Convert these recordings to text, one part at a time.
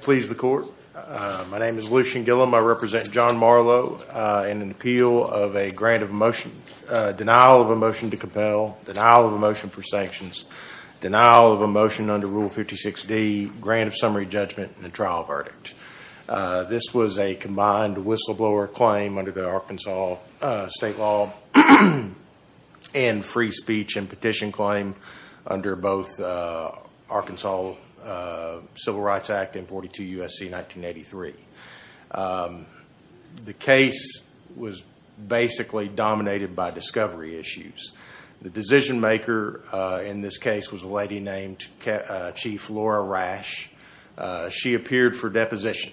Please the court. My name is Lucian Gillum. I represent John Marlow in an appeal of a grant of motion, denial of a motion to compel, denial of a motion for sanctions, denial of a motion under Rule 56D, grant of summary judgment, and a trial verdict. This was a combined whistleblower claim under the Arkansas state law and free speech and petition claim under both Arkansas Civil Rights Act and 42 U.S.C. 1983. The case was basically dominated by discovery issues. The decision maker in this case was a lady named Chief Laura Rash. She appeared for deposition.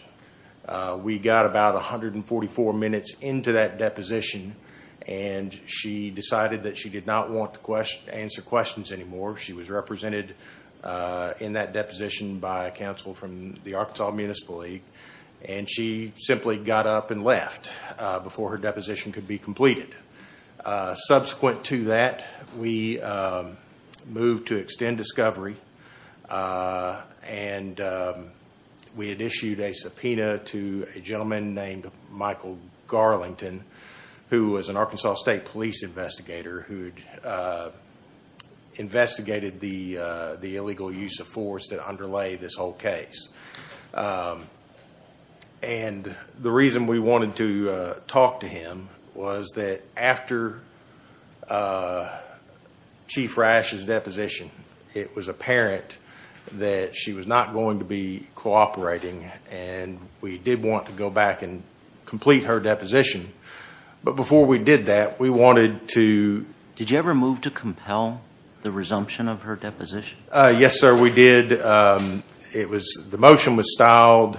We got about 144 minutes into that she was represented in that deposition by counsel from the Arkansas Municipal League and she simply got up and left before her deposition could be completed. Subsequent to that we moved to extend discovery and we had issued a subpoena to a gentleman named Michael Garlington who was an Arkansas state police investigator who had investigated the illegal use of force that underlay this whole case. The reason we wanted to talk to him was that after Chief Rash's deposition it was apparent that she was not going to be cooperating and we did want to go back and complete her deposition. But before we did that we wanted to... Did you ever move to compel the resumption of her deposition? Yes, sir, we did. The motion was styled.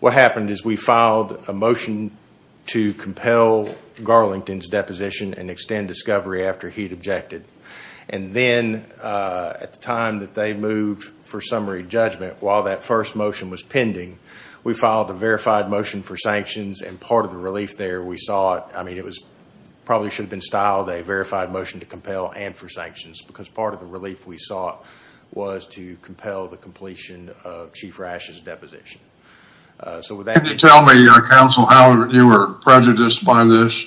What happened is we filed a motion to compel Garlington's deposition and extend discovery after he'd objected. And then at the time that they moved for summary judgment while that first motion was pending we filed a verified motion for sanctions and part of the relief there we saw it I mean it was probably should have been styled a verified motion to compel and for sanctions because part of the relief we saw was to compel the completion of Chief Rash's deposition. So would you tell me counsel how you were prejudiced by this?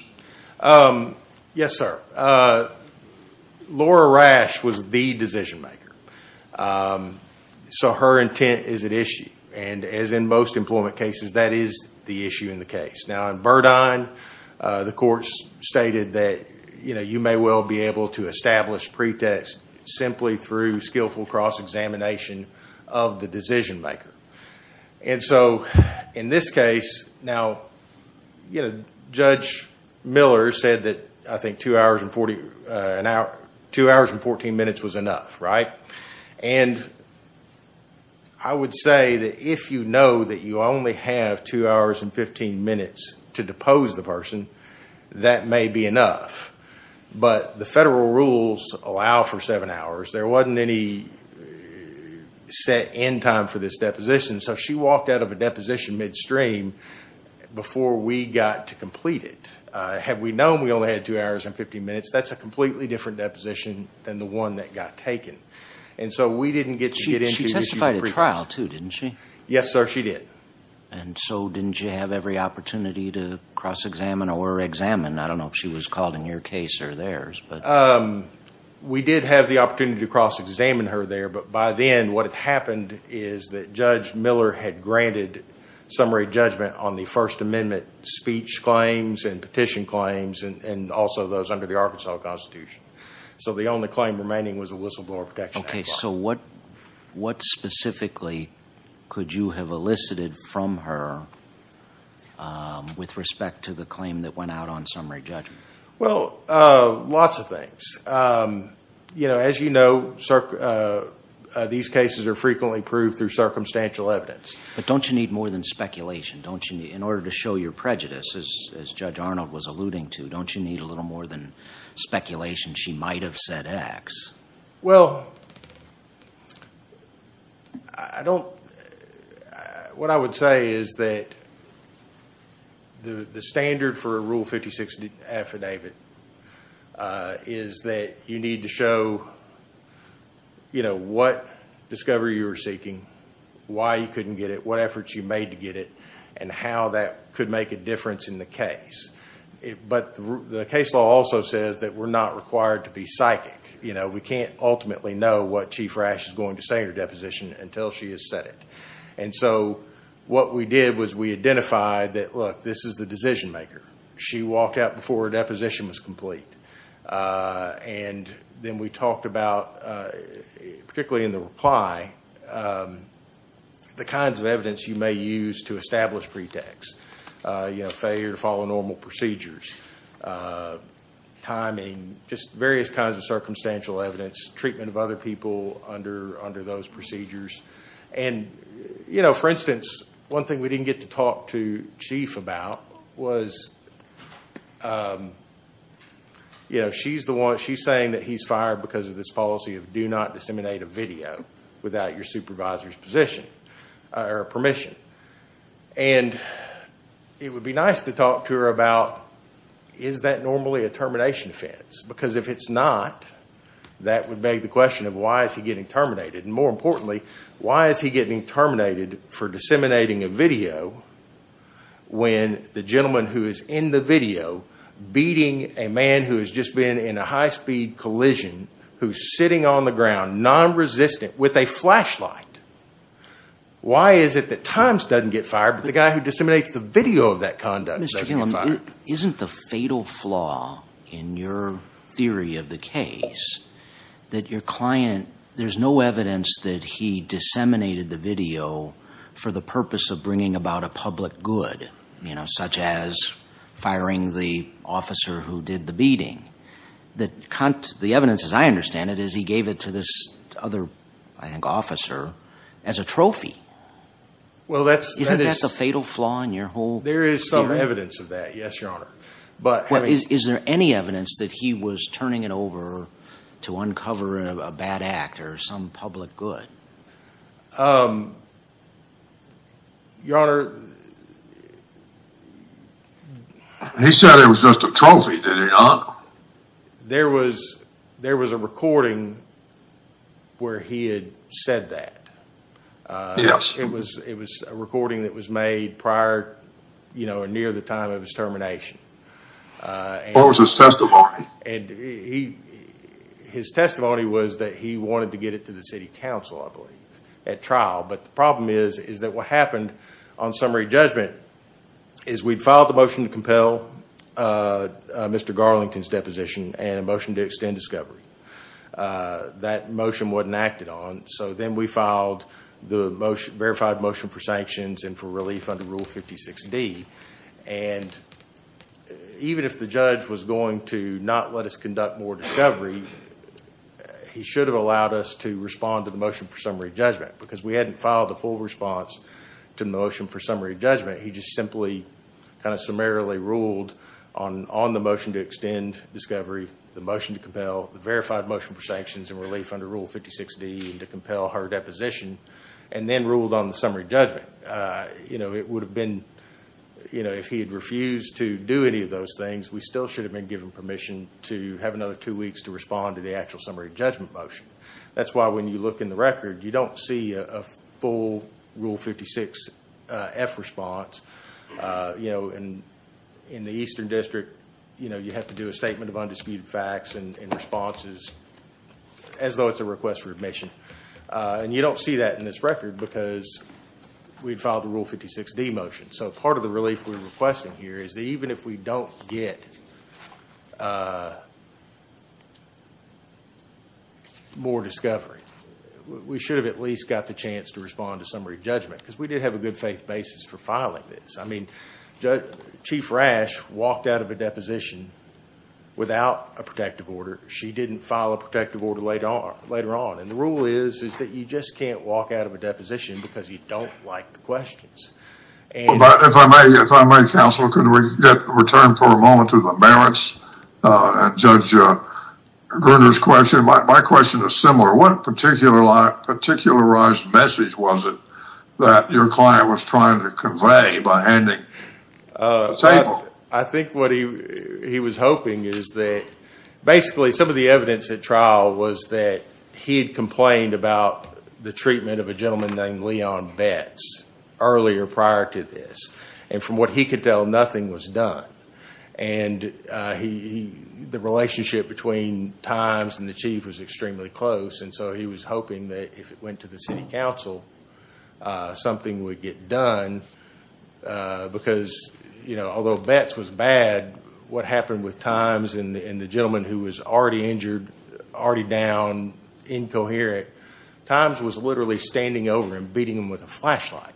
Yes, sir. Laura Rash was the decision maker. So her intent is at issue and as in most employment cases that is the issue in the case. Now in Burdine the courts stated that you know you may well be able to establish pretest simply through skillful cross-examination of the decision maker. And so in this case now you know Judge Miller said that I think 2 hours and 14 minutes was enough, right? And I would say that if you know that you only have 2 hours and 15 minutes to depose the person that may be enough. But the federal rules allow for 7 hours. There wasn't any set end time for this deposition. So she walked out of a deposition midstream before we got to complete it. Had we known we only had 2 hours and 15 minutes that's a completely different deposition than the one that got taken. And so we didn't get to get into issues. She testified at trial too, didn't she? Yes, sir. She did. And so didn't you have every opportunity to cross-examine or examine? I don't know if she was called in your case or theirs. Um, we did have the opportunity to cross-examine her there. But by then what had happened is that Judge Miller had granted summary judgment on the First Amendment speech claims and petition claims and also those under the Arkansas Constitution. So the only claim remaining was the Whistleblower Protection Act. Okay, so what specifically could you have elicited from her with respect to the um, you know, as you know, these cases are frequently proved through circumstantial evidence. But don't you need more than speculation in order to show your prejudice as Judge Arnold was alluding to? Don't you need a little more than speculation she might have said X? Well, I don't, what I would say is that the standard for a Rule 56 affidavit is that you need to show, you know, what discovery you were seeking, why you couldn't get it, what efforts you made to get it, and how that could make a difference in the case. But the case law also says that we're not required to be psychic. You know, we can't ultimately know what Chief Rasch is going to say in her deposition until she has said it. And so what we did was we identified that, look, this is the decision maker. She walked out before her deposition was and then we talked about, particularly in the reply, the kinds of evidence you may use to establish pretext. You know, failure to follow normal procedures, timing, just various kinds of circumstantial evidence, treatment of other people under those procedures. And you know, for instance, one thing we didn't get to talk to was, you know, she's the one, she's saying that he's fired because of this policy of do not disseminate a video without your supervisor's position or permission. And it would be nice to talk to her about, is that normally a termination offense? Because if it's not, that would beg the question of why is he getting terminated? And more importantly, why is he getting terminated for disseminating a video when the gentleman who is in the video beating a man who has just been in a high-speed collision, who's sitting on the ground non-resistant with a flashlight? Why is it that times doesn't get fired, but the guy who disseminates the video of that conduct? Isn't the fatal flaw in your theory of the case that your client, there's no evidence that he disseminated the video for the purpose of bringing about a public good, you know, such as firing the officer who did the beating? The evidence, as I understand it, is he gave it to this other, I think, officer as a trophy. Isn't that the fatal flaw in your whole theory? There is some evidence of that, yes, your honor. But is there any evidence that he was turning it over to uncover a bad act or some public good? Um, your honor. He said it was just a trophy, did he not? There was, there was a recording where he had said that. Yes. It was, it was a recording that was made prior, you know, near the time of his termination. What was his testimony? And he, his testimony was that he wanted to get it to the city council, I believe. But the problem is, is that what happened on summary judgment is we'd filed the motion to compel Mr. Garlington's deposition and a motion to extend discovery. That motion wasn't acted on. So then we filed the motion, verified motion for sanctions and for relief under Rule 56D. And even if the judge was going to not let us conduct more discovery, he should have allowed us to respond to the motion for summary judgment. Because we hadn't filed the full response to motion for summary judgment. He just simply kind of summarily ruled on, on the motion to extend discovery, the motion to compel, the verified motion for sanctions and relief under Rule 56D and to compel her deposition, and then ruled on the summary judgment. You know, it would have been, you know, if he had refused to do any of those things, we still should have been given permission to have another two weeks to respond to the actual summary judgment motion. That's why when you look in the record, you don't see a full Rule 56F response. You know, and in the Eastern District, you know, you have to do a statement of undisputed facts and responses as though it's a request for admission. And you don't see that in this record because we'd filed the Rule 56D motion. So part of the relief we're requesting here is that even if we don't get more discovery, we should have at least got the chance to respond to summary judgment. Because we did have a good faith basis for filing this. I mean, Chief Rash walked out of a deposition without a protective order. She didn't file a protective order later on. And the rule is that you just can't walk out of a deposition because you don't like the questions. But if I may, if I may, Counsel, can we get returned for a moment to the Barrett's and Judge Gruner's question. My question is similar. What particularized message was it that your client was trying to convey by handing a table? I think what he was hoping is that basically some of the evidence at trial was that he had complained about the treatment of a gentleman named Leon Betz earlier prior to this. And from what he could tell, nothing was done. And the relationship between Times and the Chief was extremely close. And so he was hoping that if it went to the City Council, something would get done. Because, you know, although Betz was bad, what happened with Times and the gentleman who was already injured, already down, incoherent, Times was literally standing over him, beating him with a flashlight.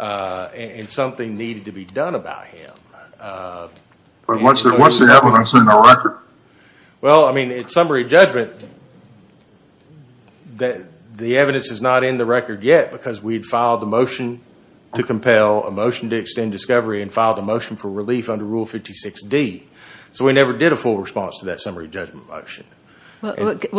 And something needed to be done about him. But what's the evidence in the record? Well, I mean, in summary judgment, the evidence is not in the record yet because we'd filed a motion to compel, a motion to extend discovery, and filed a motion for relief under Rule 56D. So we never did a full response to that summary judgment motion. Well,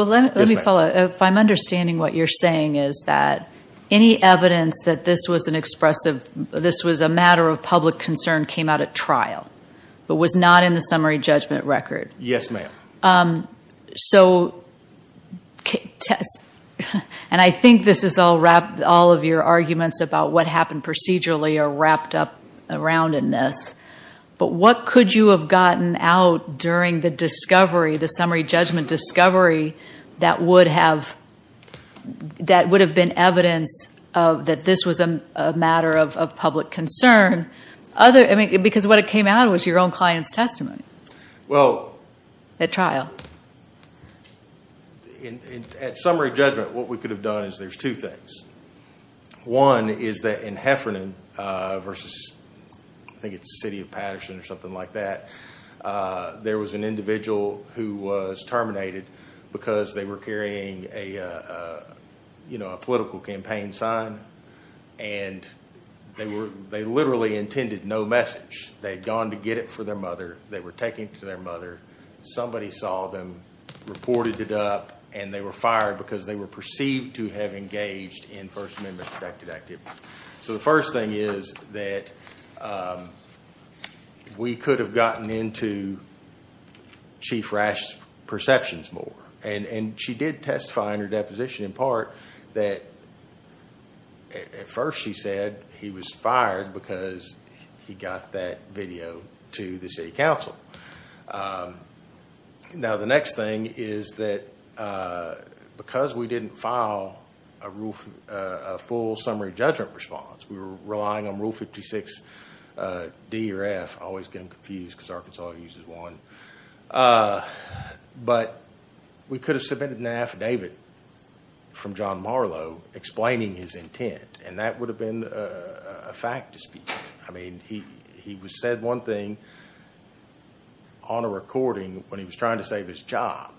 let me follow up. If I'm understanding what you're saying is that any evidence that this was an expressive, this was a matter of public concern, came out at trial, but was not in the summary judgment record. Yes, ma'am. So, and I think this is all wrapped, all of your arguments about what happened procedurally are wrapped up around in this. But what could you have gotten out during the discovery, the summary judgment discovery that would have, that would have been evidence of that this was a matter of public concern? Other, I mean, because what it came out was your own client's testimony. Well, at trial. At summary judgment, what we could have done is there's two things. One is that in Heffernan versus, I think it's the city of Patterson or something like that, there was an individual who was terminated because they were carrying a, you know, a political campaign sign. And they were, they literally intended no message. They'd gone to get it for their mother. They were taking it to their mother. Somebody saw them, reported it up, and they were fired because they were engaged in First Amendment protected activity. So the first thing is that we could have gotten into Chief Rash's perceptions more. And she did testify in her deposition in part that at first she said he was fired because he got that video to the city council. Now, the next thing is that because we didn't file a full summary judgment response, we were relying on Rule 56 D or F, I always get them confused because Arkansas uses one. But we could have submitted an affidavit from John Marlowe explaining his intent. And that would have been a fact dispute. I mean, he said one thing on a recording when he was trying to save his job.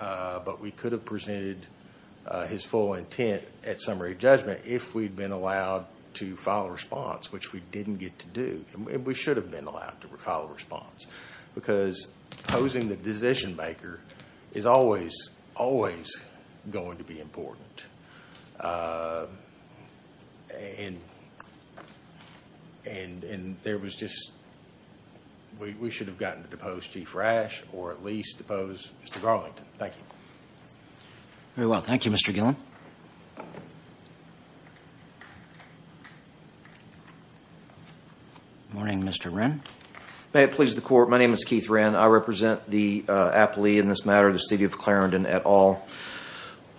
But we could have presented his full intent at summary judgment if we'd been allowed to file a response, which we didn't get to do. We should have been allowed to file a response. Because posing the decision maker is always, always going to be important. And there was just, we should have gotten to depose Chief Rash or at least depose Mr. Garlington. Thank you. Very well. Thank you, Mr. Gillen. Morning, Mr. Wren. May it please the court. My name is Keith Wren. I represent the appellee in this matter, the city of Clarendon et al.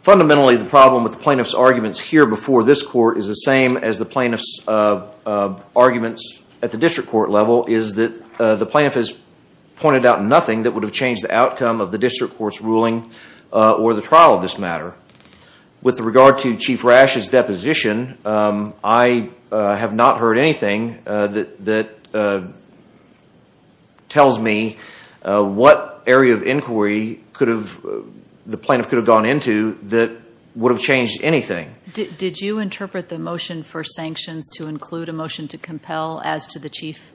Fundamentally, the problem with the plaintiff's arguments here before this court is the same as the plaintiff's arguments at the district court level is that the plaintiff has pointed out nothing that would have changed the outcome of the district court's ruling or the trial of this matter. With regard to Chief Rash's deposition, I have not heard anything that tells me what area of inquiry the plaintiff could have gone into that would have changed anything. Did you interpret the motion for sanctions to include a motion to compel as to the chief?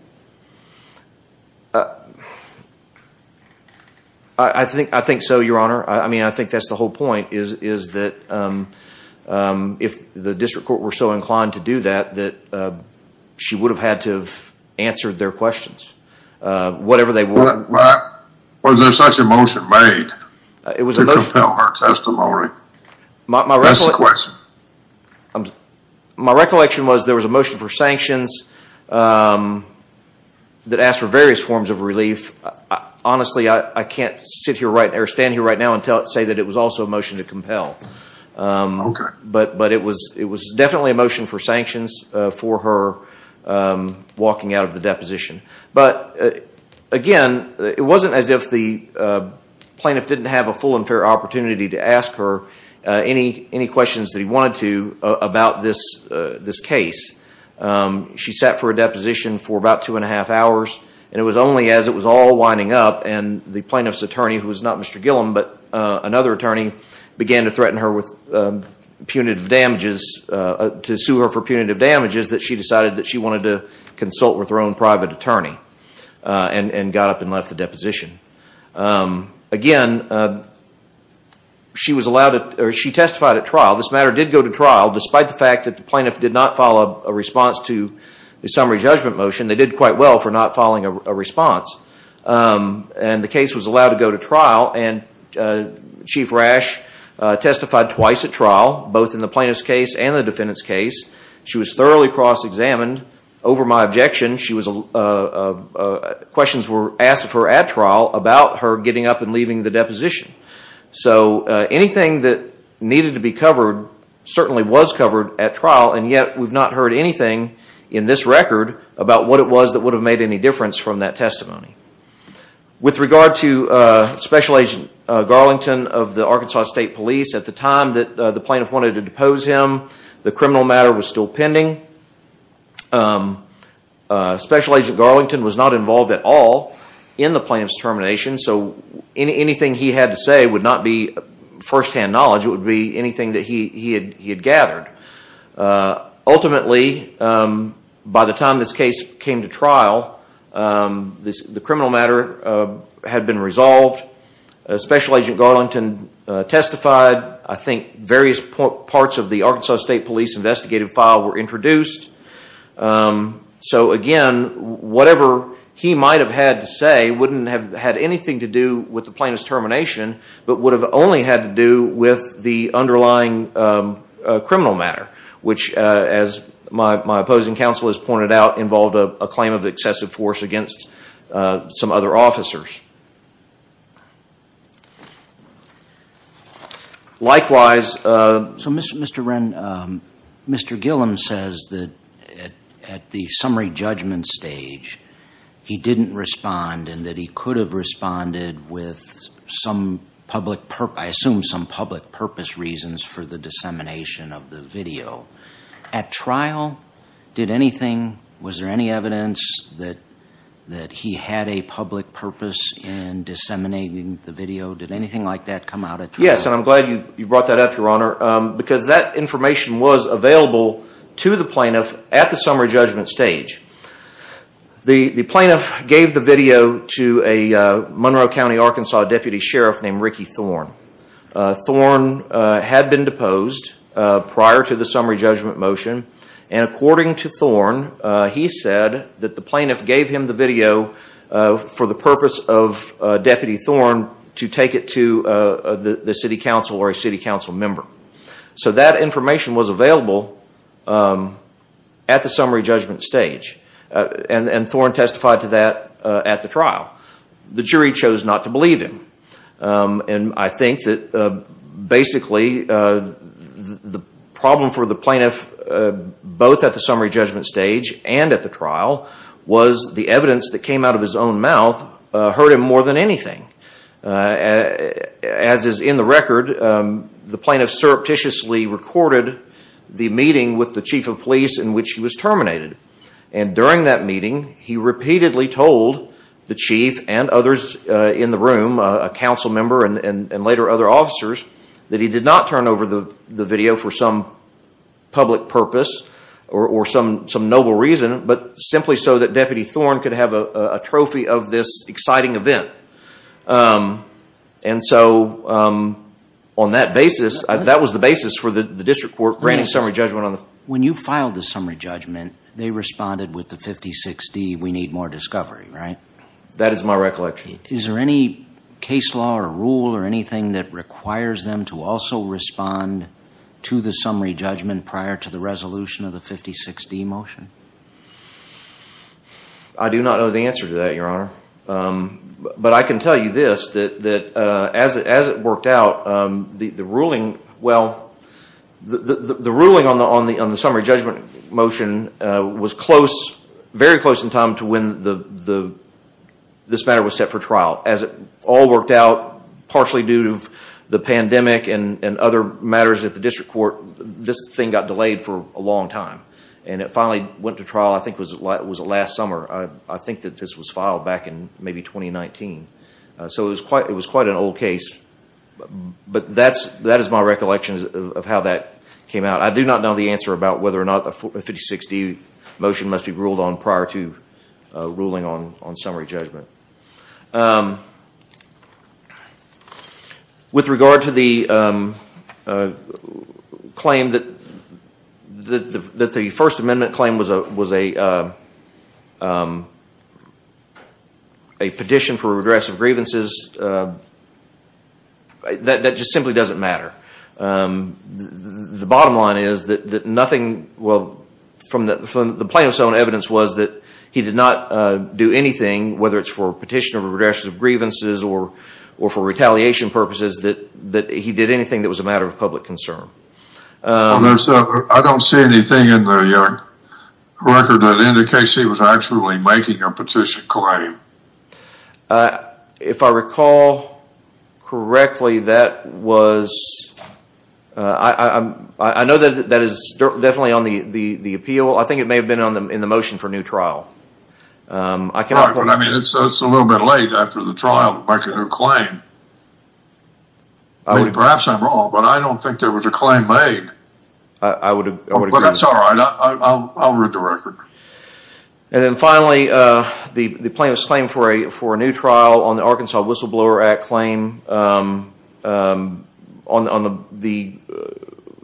I think so, Your Honor. I think that's the whole point is that if the district court were so inclined to do that, that she would have had to have answered their questions, whatever they were. Was there such a motion made to compel her testimony? That's the question. My recollection was there was a motion for sanctions that asked for various forms of relief. Honestly, I can't sit here or stand here right now and say that it was also a motion to compel. Okay. But it was definitely a motion for sanctions for her walking out of the deposition. But again, it wasn't as if the plaintiff didn't have a full and fair opportunity to ask her any questions that he wanted to about this case. She sat for a deposition for about two and a half hours, and it was only as it was all winding up and the plaintiff's attorney, who was not Mr. Gillum, but another attorney, began to threaten her with punitive damages, to sue her for punitive damages, and got up and left the deposition. Again, she testified at trial. This matter did go to trial, despite the fact that the plaintiff did not file a response to the summary judgment motion. They did quite well for not filing a response. The case was allowed to go to trial, and Chief Rash testified twice at trial, both in the plaintiff's case and the defendant's case. She was thoroughly cross-examined. Over my objection, questions were asked of her at trial about her getting up and leaving the deposition. So anything that needed to be covered certainly was covered at trial, and yet we've not heard anything in this record about what it was that would have made any difference from that testimony. With regard to Special Agent Garlington of the Arkansas State Police, at the time that the plaintiff wanted to depose him, the criminal matter was still pending. Special Agent Garlington was not involved at all in the plaintiff's termination, so anything he had to say would not be first-hand knowledge. It would be anything that he had gathered. Ultimately, by the time this case came to trial, the criminal matter had been resolved. Special Agent Garlington testified. I think various parts of the Arkansas State Police investigative file were introduced. So again, whatever he might have had to say wouldn't have had anything to do with the plaintiff's termination, but would have only had to do with the underlying criminal matter, which, as my opposing counsel has pointed out, involved a claim of excessive force against some other officers. Mr. Ren, Mr. Gillum says that at the summary judgment stage, he didn't respond and that he could have responded with some public purpose reasons for the dissemination of the video. At trial, did anything, was there any evidence that he had a public purpose in disseminating the video? Did anything like that come out at trial? Yes, and I'm glad you brought that up, Your Honor, because that information was available to the plaintiff at the summary judgment stage. The plaintiff gave the video to a Monroe County, Arkansas, deputy sheriff named Ricky Thorne. Thorne had been deposed prior to the summary judgment motion, and according to Thorne, he said that the plaintiff gave him the video for the purpose of Deputy Thorne to take it to the city council or a city council member. So that information was available at the summary judgment stage, and Thorne testified to that at the trial. The jury chose not to believe him, and I think that basically, the problem for the plaintiff, both at the summary judgment stage and at the trial, was the evidence that came out of his own mouth hurt him more than anything. As is in the record, the plaintiff surreptitiously recorded the meeting with the chief of police in which he was terminated. During that meeting, he repeatedly told the chief and others in the room, a council member and later other officers, that he did not turn over the video for some public purpose or some noble reason, but simply so that Deputy Thorne could have a trophy of this exciting event. So on that basis, that was the basis for the district court granting summary judgment on the... When you filed the summary judgment, they responded with the 56D, we need more discovery, right? That is my recollection. Is there any case law or rule or anything that requires them to also respond to the summary judgment prior to the resolution of the 56D motion? I do not know the answer to that, Your Honor. But I can tell you this, that as it worked out, the ruling... Well, the ruling on the summary judgment motion was close, very close in time to when this matter was set for trial. As it all worked out, partially due to the pandemic and other matters at the district court, this thing got delayed for a long time and it finally went to trial, it was last summer. I think that this was filed back in maybe 2019. So it was quite an old case, but that is my recollection of how that came out. I do not know the answer about whether or not the 56D motion must be ruled on prior to ruling on summary judgment. With regard to the claim that the First Amendment claim was a petition for redress of grievances, that just simply does not matter. The bottom line is that nothing... Well, from the plaintiff's own evidence was that he did not do anything, whether it's for petition of redress of grievances or for retaliation purposes, that he did anything that was a matter of public concern. I don't see anything in the record that indicates he was actually making a petition claim. If I recall correctly, that was... I know that that is definitely on the appeal. I think it may have been in the motion for new trial. Right, but I mean, it's a little bit late after the trial to make a new claim. Perhaps I'm wrong, but I don't think there was a claim made. But that's all right, I'll read the record. And then finally, the plaintiff's claim for a new trial on the Arkansas Whistleblower Act claim.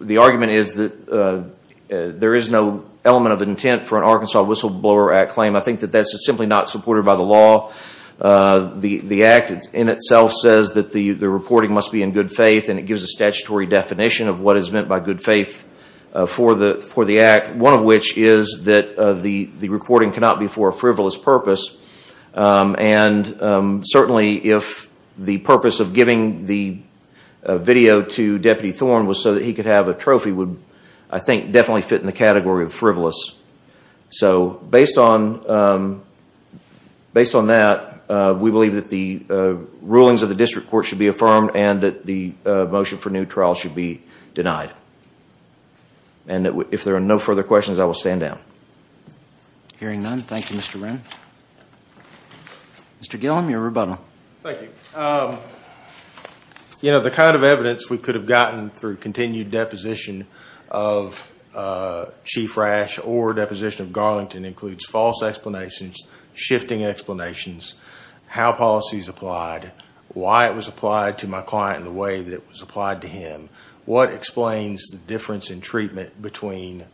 The argument is that there is no element of intent for an Arkansas Whistleblower Act claim. I think that that's simply not supported by the law. The Act in itself says that the reporting must be in good faith, and it gives a statutory definition of what is meant by good faith for the Act, one of which is that the reporting cannot be for a frivolous purpose. And certainly, if the purpose of giving the video to Deputy Thorn was so that he could have a trophy would, I think, definitely fit in the category of frivolous. So, based on that, we believe that the rulings of the district court should be affirmed and that the motion for new trial should be denied. And if there are no further questions, I will stand down. Hearing none, thank you, Mr. Brown. Mr. Gillum, your rebuttal. Thank you. You know, the kind of evidence we could have gotten through continued deposition of Chief Rash or deposition of Garlington includes false explanations, shifting explanations, how policies applied, why it was applied to my client in the way that it was applied to him, what explains the difference in treatment between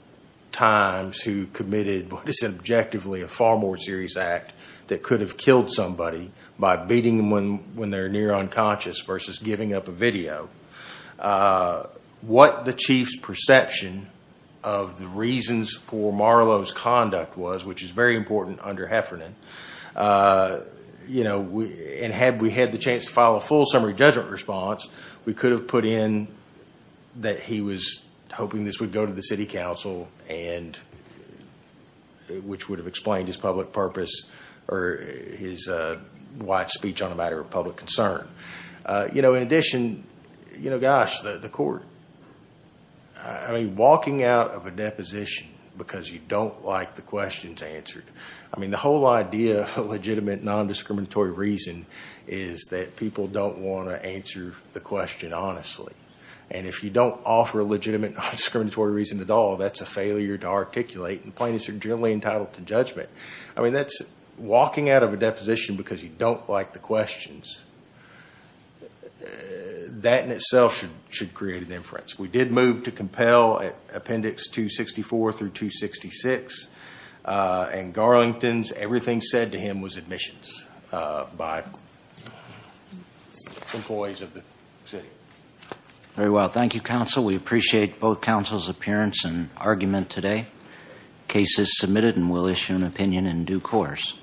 times who committed what is objectively a far more serious act that could have killed somebody by beating them when they're near unconscious versus giving up a video, what the Chief's perception of the reasons for Marlowe's conduct was, which is very important under Heffernan, you know, and had we had the chance to file a full summary judgment response, we could have put in that he was hoping this would go to the City Council and which would have explained his public purpose or his wide speech on a matter of public concern. You know, in addition, you know, gosh, the court, I mean, walking out of a deposition because you don't like the questions answered. I mean, the whole idea of a legitimate non-discriminatory reason is that people don't want to answer the question honestly. And if you don't offer a legitimate non-discriminatory reason at all, that's a failure to articulate and plaintiffs are generally entitled to judgment. I mean, that's walking out of a deposition because you don't like the questions. That in itself should create an inference. We did move to compel at Appendix 264 through 266 and Garlington's, everything said to him was admissions by employees of the city. Very well. Thank you, counsel. We appreciate both counsel's appearance and argument today. Case is submitted and we'll issue an opinion in due course.